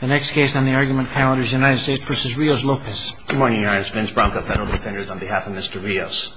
The next case on the argument calendar is United States v. Rios-Lopez Good morning, Your Honor. It's Vince Branca, Federal Defenders, on behalf of Mr. Rios.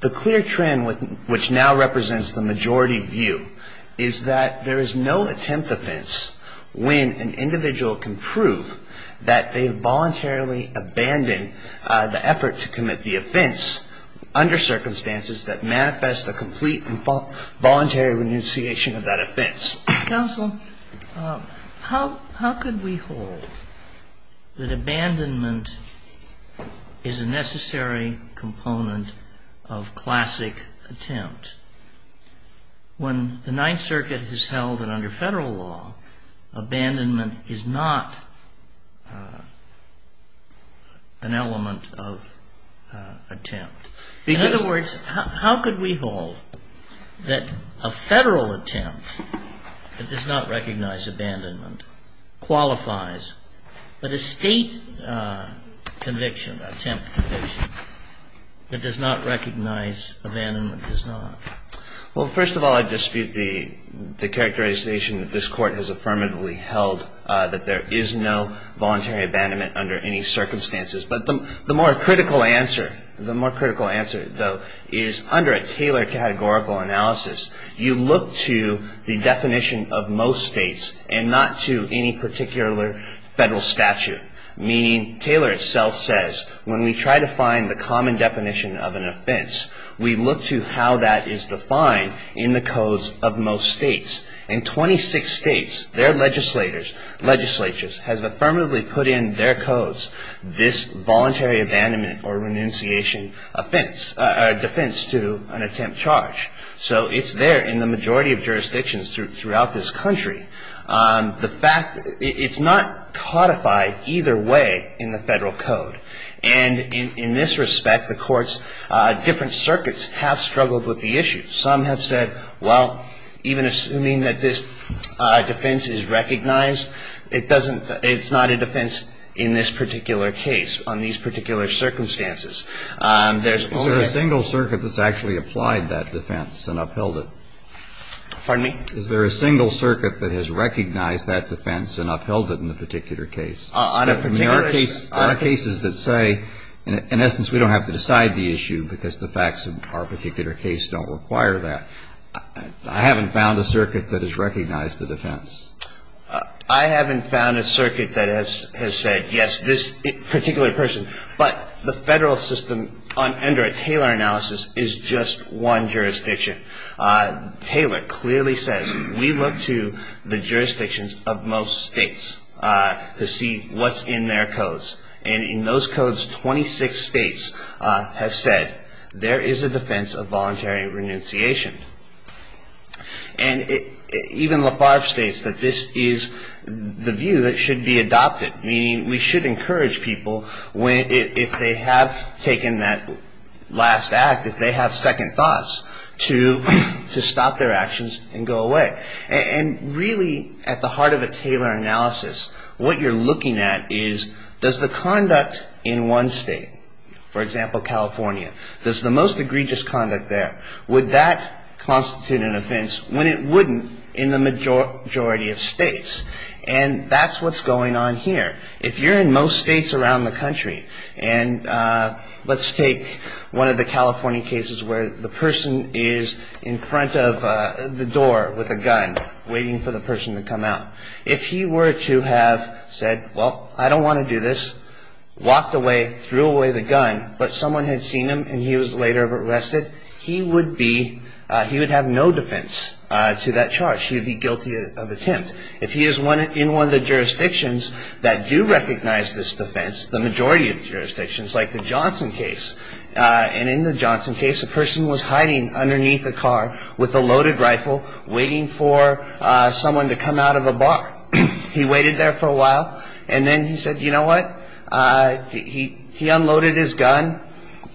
The clear trend which now represents the majority view is that there is no attempt offense when an individual can prove that they voluntarily abandoned the effort to commit the offense under circumstances that manifest a complete and voluntary renunciation of that offense. Counsel, how could we hold that abandonment is a necessary component of classic attempt when the Ninth Circuit has held that under Federal law abandonment is not an element of attempt? In other words, how could we hold that a Federal attempt that does not recognize abandonment qualifies, but a State conviction, attempt conviction, that does not recognize abandonment does not? Well, first of all, I dispute the characterization that this Court has affirmatively held that there is no voluntary abandonment under any circumstances. But the more critical answer, the more critical answer, though, is under a tailored categorical analysis, you look to the definition of most States and not to any particular Federal statute. Meaning, Taylor itself says, when we try to find the common definition of an offense, we look to how that is defined in the codes of most States. In 26 States, their legislatures have affirmatively put in their codes this voluntary abandonment or renunciation offense, defense to an attempt charge. So it's there in the majority of jurisdictions throughout this country. The fact, it's not codified either way in the Federal code. And in this respect, the courts, different circuits have struggled with the issue. Some have said, well, even assuming that this defense is recognized, it doesn't, it's not a defense in this particular case, on these particular circumstances. There's only a single circuit that's actually applied that defense and upheld it. Pardon me? Is there a single circuit that has recognized that defense and upheld it in the particular case? On a particular case? There are cases that say, in essence, we don't have to decide the issue because the facts of our particular case don't require that. I haven't found a circuit that has recognized the defense. I haven't found a circuit that has said, yes, this particular person. But the Federal system under a Taylor analysis is just one jurisdiction. Taylor clearly says, we look to the jurisdictions of most States to see what's in their codes. And in those codes, 26 States have said, there is a defense of voluntary renunciation. And even Lafarge states that this is the view that should be adopted, meaning we should encourage people, if they have taken that last act, if they have second thoughts, to stop their actions and go away. And really, at the heart of a Taylor analysis, what you're looking at is, does the conduct in one State, for example, California, does the most egregious conduct there, would that constitute an offense when it wouldn't in the majority of States? And that's what's going on here. If you're in most States around the country, and let's take one of the California cases where the person is in front of the door with a gun waiting for the person to come out. If he were to have said, well, I don't want to do this, walked away, threw away the gun, but someone had seen him and he was later arrested, he would be, he would have no defense to that charge. He would be guilty of attempt. If he is in one of the jurisdictions that do recognize this defense, the majority of jurisdictions, like the Johnson case, and in the Johnson case, a person was hiding underneath a car with a loaded rifle waiting for someone to come out of a bar. He waited there for a while, and then he said, you know what, he unloaded his gun,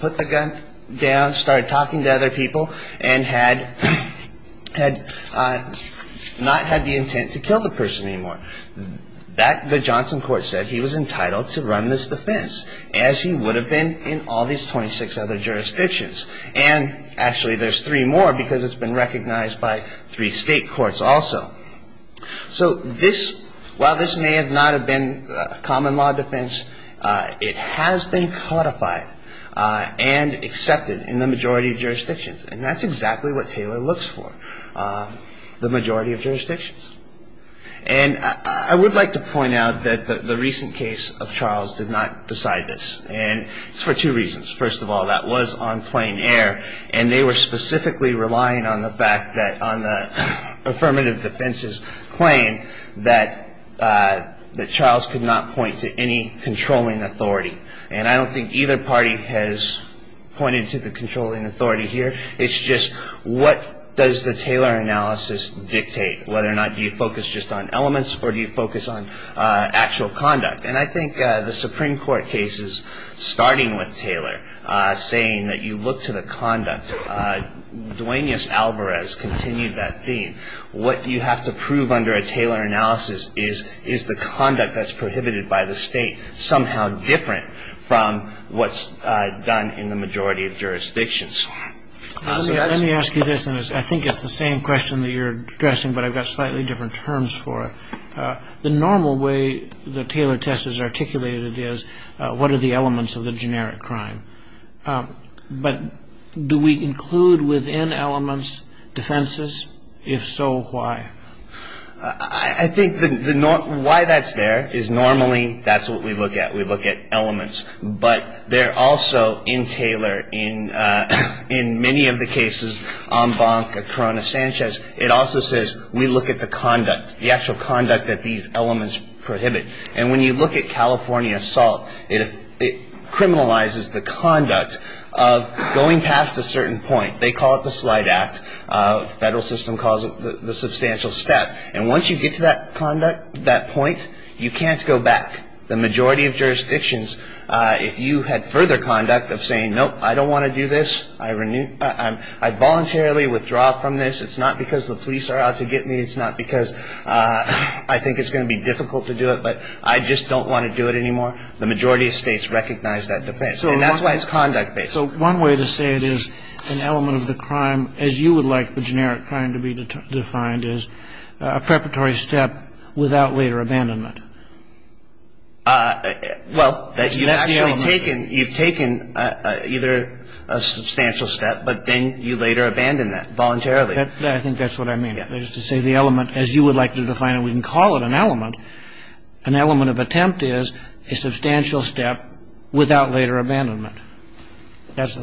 put the gun down, started talking to other people, and had not had the intent to kill the person anymore. That, the Johnson court said, he was entitled to run this defense, as he would have been in all these 26 other jurisdictions. And actually there's three more because it's been recognized by three State courts also. So this, while this may not have been a common law defense, it has been codified and accepted in the majority of jurisdictions. And that's exactly what Taylor looks for, the majority of jurisdictions. And I would like to point out that the recent case of Charles did not decide this, and it's for two reasons. First of all, that was on plain air, and they were specifically relying on the fact that, on the affirmative defense's claim, that Charles could not point to any controlling authority. And I don't think either party has pointed to the controlling authority here. It's just, what does the Taylor analysis dictate? Whether or not do you focus just on elements, or do you focus on actual conduct? And I think the Supreme Court case is starting with Taylor, saying that you look to the conduct. Duaneus Alvarez continued that theme. What you have to prove under a Taylor analysis is, is the conduct that's prohibited by the State somehow different from what's done in the majority of jurisdictions. Let me ask you this, and I think it's the same question that you're addressing, but I've got slightly different terms for it. The normal way the Taylor test is articulated is, what are the elements of the generic crime? But do we include within elements defenses? If so, why? I think why that's there is, normally, that's what we look at. We look at elements. But they're also, in Taylor, in many of the cases, Ombank, Corona-Sanchez, it also says, we look at the conduct, the actual conduct that these elements prohibit. And when you look at California assault, it criminalizes the conduct of going past a certain point. They call it the slight act. The federal system calls it the substantial step. And once you get to that conduct, that point, you can't go back. The majority of jurisdictions, if you had further conduct of saying, nope, I don't want to do this, I voluntarily withdraw from this, it's not because the police are out to get me, it's not because I think it's going to be difficult to do it, but I just don't want to do it anymore, the majority of states recognize that defense. And that's why it's conduct-based. So one way to say it is, an element of the crime, as you would like the generic crime to be defined, is a preparatory step without later abandonment. Well, you've actually taken, you've taken either a substantial step, but then you later abandon that voluntarily. I think that's what I mean, is to say the element, as you would like to define it, we can call it an element. An element of attempt is a substantial step without later abandonment. That's the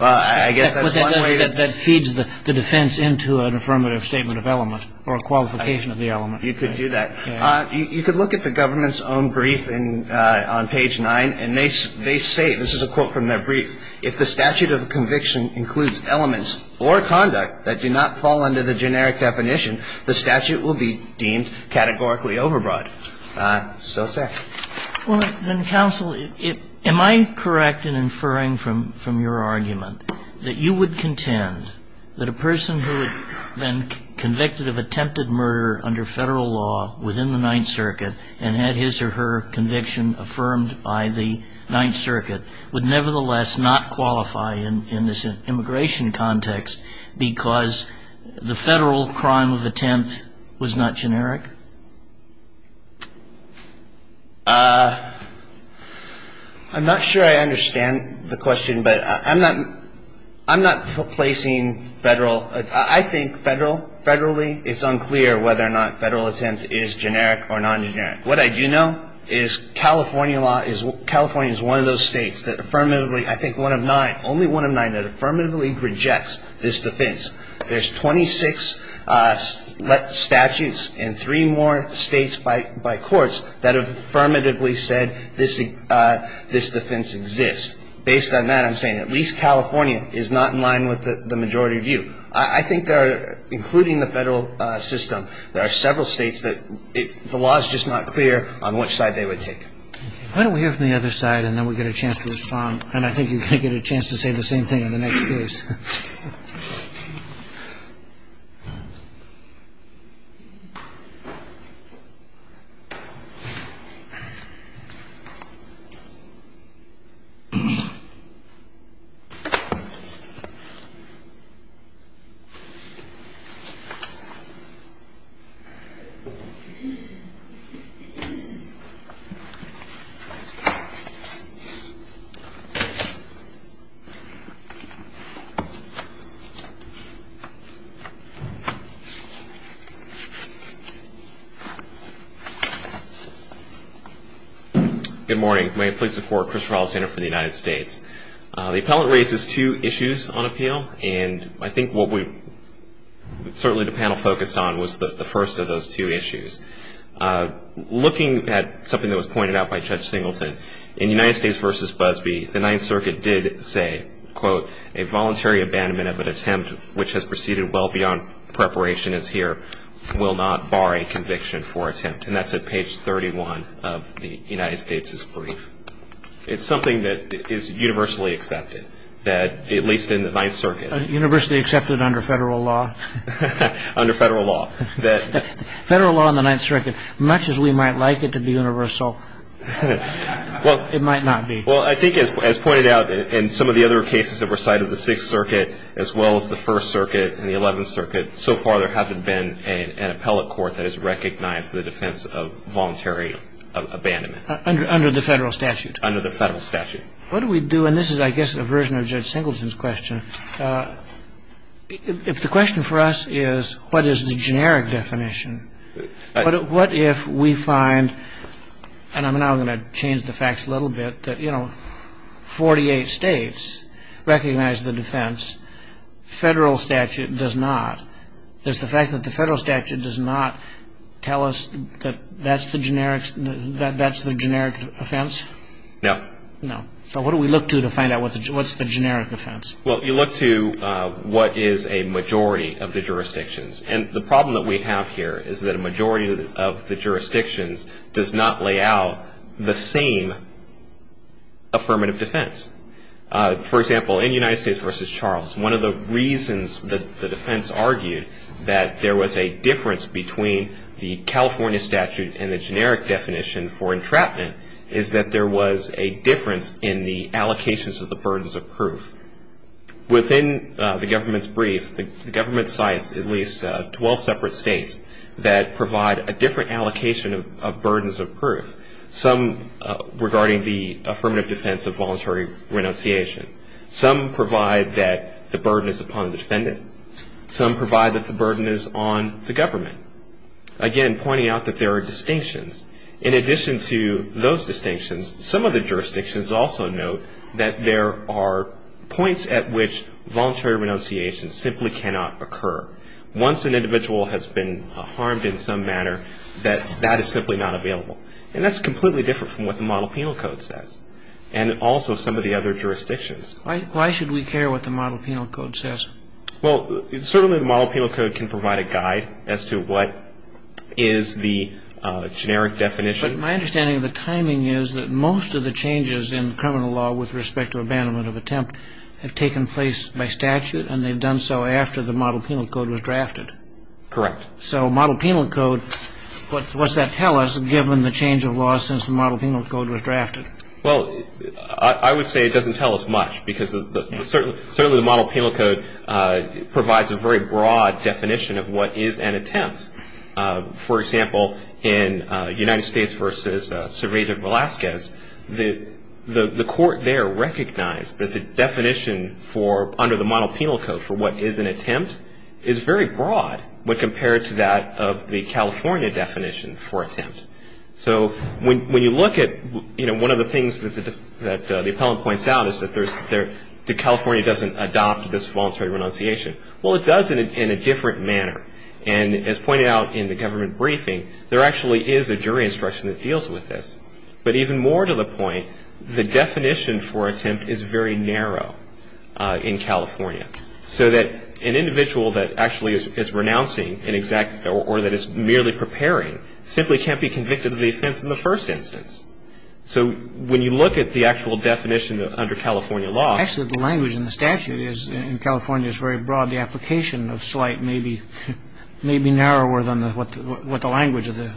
way that feeds the defense into an affirmative statement of element or a qualification of the element. You could do that. You could look at the government's own brief on page 9, and they say, this is a quote from their brief, if the statute of conviction includes elements or conduct that do not fall under the generic definition, the statute will be deemed categorically overbroad. So say. Well, then, counsel, am I correct in inferring from your argument that you would contend that a person who had been convicted of attempted murder under Federal law within the Ninth Circuit and had his or her conviction affirmed by the Ninth Circuit would nevertheless not qualify in this immigration context because the Federal crime of attempt was not generic? I'm not sure I understand the question, but I'm not placing Federal. I think Federally, it's unclear whether or not Federal attempt is generic or non-generic. What I do know is California law is, California is one of those states that affirmatively, I think one of nine, only one of nine that affirmatively rejects this defense. There's 26 statutes and three more states by courts that affirmatively said this defense exists. Based on that, I'm saying at least California is not in line with the majority view. I think there are, including the Federal system, there are several states that the law is just not clear on which side they would take. Why don't we hear from the other side and then we get a chance to respond. And I think you're going to get a chance to say the same thing in the next case. Good morning. May it please the court, Christopher Alexander from the United States. The appellant raises two issues on appeal and I think what we, certainly the panel focused on was the first of those two issues. Looking at something that was pointed out by Judge Singleton, in United States versus Busby, the Ninth Circuit did say, quote, a voluntary abandonment of an attempt which has proceeded well beyond preparation is here, will not bar a conviction for attempt. And that's at page 31 of the United States' brief. It's something that is universally accepted, that at least in the Ninth Circuit. Universally accepted under Federal law? Under Federal law. Federal law in the Ninth Circuit, much as we might like it to be universal, it might not be. Well, I think as pointed out in some of the other cases that were cited in the Sixth Circuit as well as the First Circuit and the Eleventh Circuit, so far there hasn't been an appellate court that has recognized the defense of voluntary abandonment. Under the Federal statute. Under the Federal statute. What do we do, and this is, I guess, a version of Judge Singleton's question. If the question for us is, what is the generic definition, what if we find, and I'm now going to change the facts a little bit, that, you know, 48 states recognize the defense, Federal statute does not. Does the fact that the Federal statute does not tell us that that's the generic offense? No. No. So what do we look to to find out what's the generic offense? Well, you look to what is a majority of the jurisdictions. And the problem that we have here is that a majority of the jurisdictions does not lay out the same affirmative defense. For example, in United States v. Charles, one of the reasons that the defense argued that there was a difference between the California statute and the generic definition for entrapment is that there was a difference in the allocations of the burdens of proof. Within the government's brief, the government cites at least 12 separate states that provide a different allocation of burdens of proof, some regarding the affirmative defense of voluntary renunciation. Some provide that the burden is upon the defendant. Some provide that the burden is on the government. Again, pointing out that there are distinctions. In addition to those distinctions, some of the jurisdictions also note that there are points at which voluntary renunciation simply cannot occur. Once an individual has been harmed in some manner, that is simply not available. And that's completely different from what the Model Penal Code says, and also some of the other jurisdictions. Why should we care what the Model Penal Code says? Well, certainly the Model Penal Code can provide a guide as to what is the generic definition. My understanding of the timing is that most of the changes in criminal law with respect to abandonment of attempt have taken place by statute, and they've done so after the Model Penal Code was drafted. Correct. So Model Penal Code, what does that tell us, given the change of law since the Model Penal Code was drafted? Well, I would say it doesn't tell us much, because certainly the Model Penal Code provides a very broad definition of what is an attempt. For example, in United States v. Surveyor Velasquez, the court there recognized that the definition under the Model Penal Code for what is an attempt is very broad when compared to that of the California definition for attempt. So when you look at one of the things that the appellant points out is that California doesn't adopt this voluntary renunciation. Well, it does in a different manner. And as pointed out in the government briefing, there actually is a jury instruction that deals with this. But even more to the point, the definition for attempt is very narrow in California. So that an individual that actually is renouncing or that is merely preparing simply can't be convicted of the offense in the first instance. So when you look at the actual definition under California law. Actually, the language in the statute in California is very broad. The application of slight may be narrower than what the language of the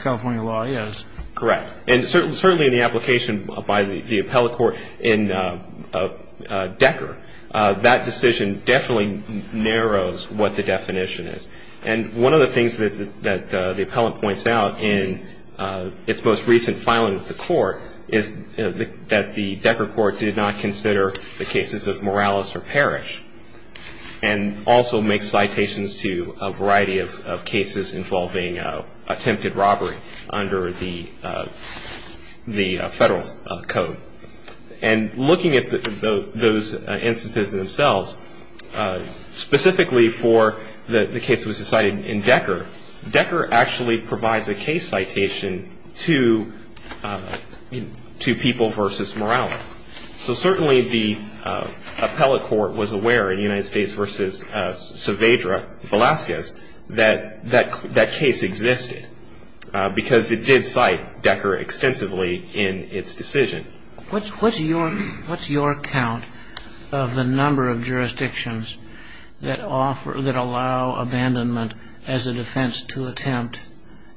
California law is. Correct. And certainly in the application by the appellate court in Decker, that decision definitely narrows what the definition is. And one of the things that the appellant points out in its most recent filing of the court is that the Decker court did not consider the cases of Morales or Parrish. And also makes citations to a variety of cases involving attempted robbery under the federal code. And looking at those instances themselves, specifically for the case that was decided in Decker, Decker actually provides a case citation to people versus Morales. So certainly the appellate court was aware in United States versus Saavedra, Velazquez, that that case existed because it did cite Decker extensively in its decision. What's your count of the number of jurisdictions that allow abandonment as a defense to attempt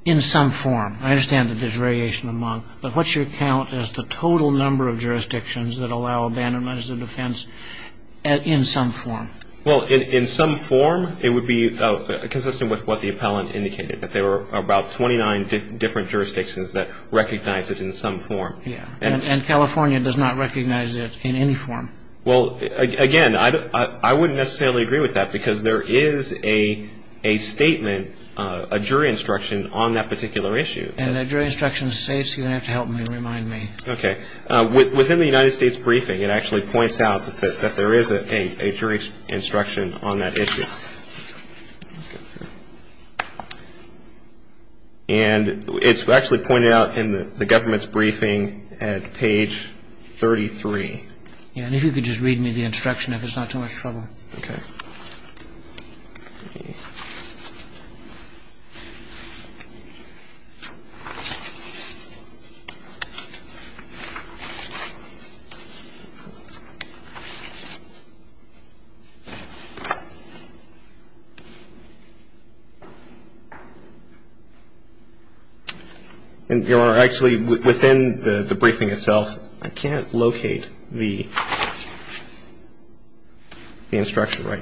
in some form? I understand that there's variation among. But what's your count as the total number of jurisdictions that allow abandonment as a defense in some form? Well, in some form, it would be consistent with what the appellant indicated. That there were about 29 different jurisdictions that recognize it in some form. And California does not recognize it in any form. Well, again, I wouldn't necessarily agree with that because there is a statement, a jury instruction on that particular issue. And that jury instruction states, you're going to have to help me, remind me. Okay. Within the United States briefing, it actually points out that there is a jury instruction on that issue. And it's actually pointed out in the government's briefing at page 33. Yeah. And if you could just read me the instruction, if it's not too much trouble. Okay. Your Honor, actually, within the briefing itself, I can't locate the instruction right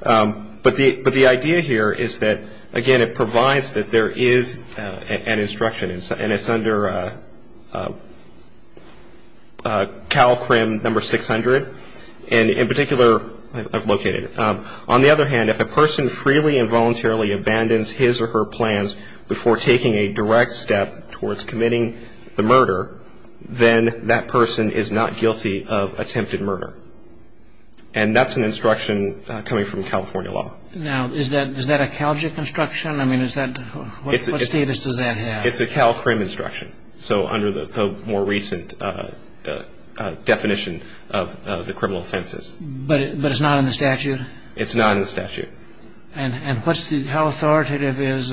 now. But the idea here is that, again, it provides that there is an instruction. And it's under CALCRM number 600. And in particular, I've located it. On the other hand, if a person freely and voluntarily abandons his or her plans before taking a direct step towards committing the murder, then that person is not guilty of attempted murder. And that's an instruction coming from California law. Now, is that a CALGIC instruction? I mean, what status does that have? It's a CALCRM instruction. So under the more recent definition of the criminal offenses. But it's not in the statute? It's not in the statute. And how authoritative is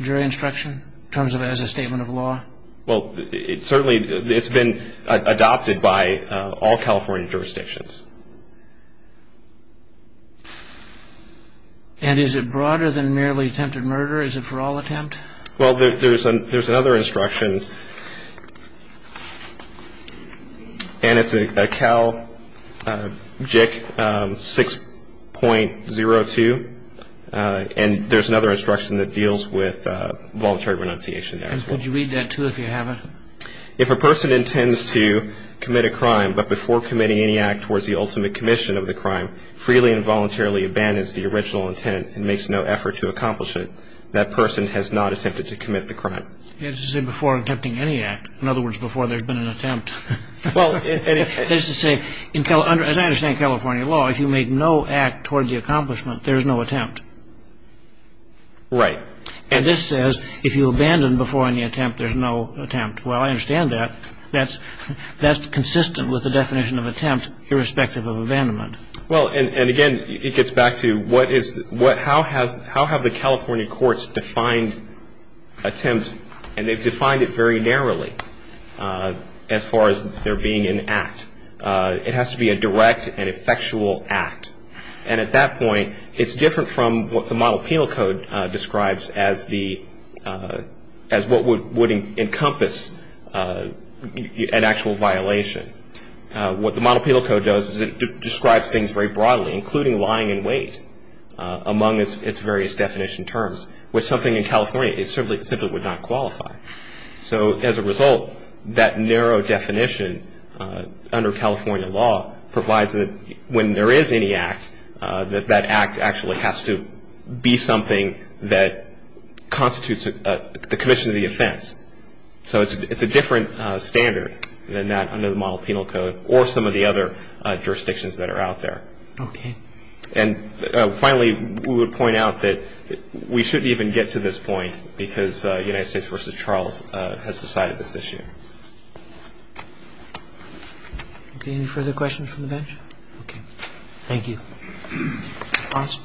jury instruction in terms of as a statement of law? Well, certainly, it's been adopted by all California jurisdictions. And is it broader than merely attempted murder? Is it for all attempt? Well, there's another instruction. And it's a CALGIC 6.02. And there's another instruction that deals with voluntary renunciation there as well. And would you read that, too, if you haven't? If a person intends to commit a crime, but before committing any act towards the ultimate commission of the crime, freely and voluntarily abandons the original intent and makes no effort to accomplish it, that person has not attempted to commit the crime. As you say, before attempting any act. In other words, before there's been an attempt. As I understand California law, if you make no act toward the accomplishment, there's no attempt. Right. And this says, if you abandon before any attempt, there's no attempt. Well, I understand that. That's consistent with the definition of attempt, irrespective of abandonment. Well, and again, it gets back to how have the California courts defined attempt? And they've defined it very narrowly as far as there being an act. It has to be a direct and effectual act. And at that point, it's different from what the model penal code describes as what would encompass an actual violation. What the model penal code does is it describes things very broadly, including lying in wait among its various definition terms, which something in California it simply would not qualify. So as a result, that narrow definition under California law provides that when there is any act, that that act actually has to be something that constitutes the commission of the offense. So it's a different standard than that under the model penal code or some of the other jurisdictions that are out there. Okay. And finally, we would point out that we shouldn't even get to this point because United States v. Charles has decided this issue. Okay. Any further questions from the bench? Okay. Thank you. Counsel?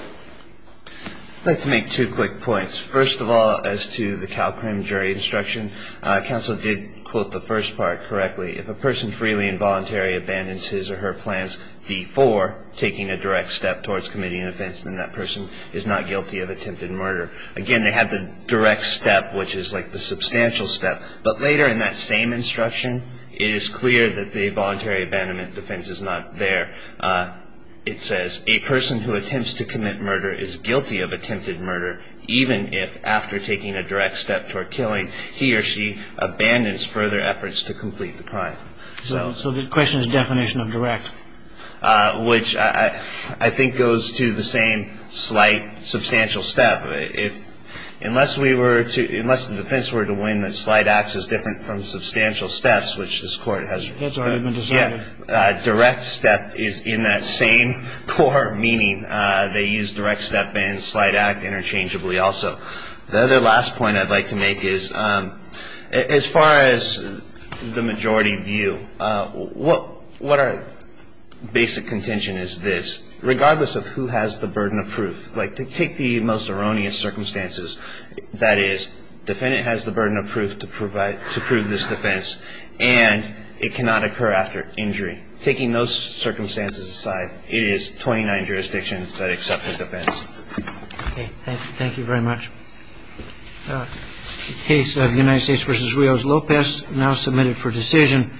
I'd like to make two quick points. First of all, as to the CalCrim jury instruction, counsel did quote the first part correctly. If a person freely and voluntarily abandons his or her plans before taking a direct step towards committing an offense, then that person is not guilty of attempted murder. Again, they have the direct step, which is like the substantial step. But later in that same instruction, it is clear that the voluntary abandonment defense is not there. It says, a person who attempts to commit murder is guilty of attempted murder, even if after taking a direct step toward killing, he or she abandons further efforts to complete the crime. So the question is definition of direct. Which I think goes to the same slight substantial step. Unless we were to, unless the defense were to win that slight acts is different from substantial steps, which this court has already been decided, direct step is in that same core meaning. They use direct step and slight act interchangeably also. The other last point I'd like to make is, as far as the majority view, what our basic contention is this. Regardless of who has the burden of proof, like to take the most erroneous circumstances, that is, defendant has the burden of proof to prove this defense and it cannot occur after injury. Taking those circumstances aside, it is 29 jurisdictions that accept the defense. Okay, thank you very much. Case of United States versus Rios Lopez now submitted for decision.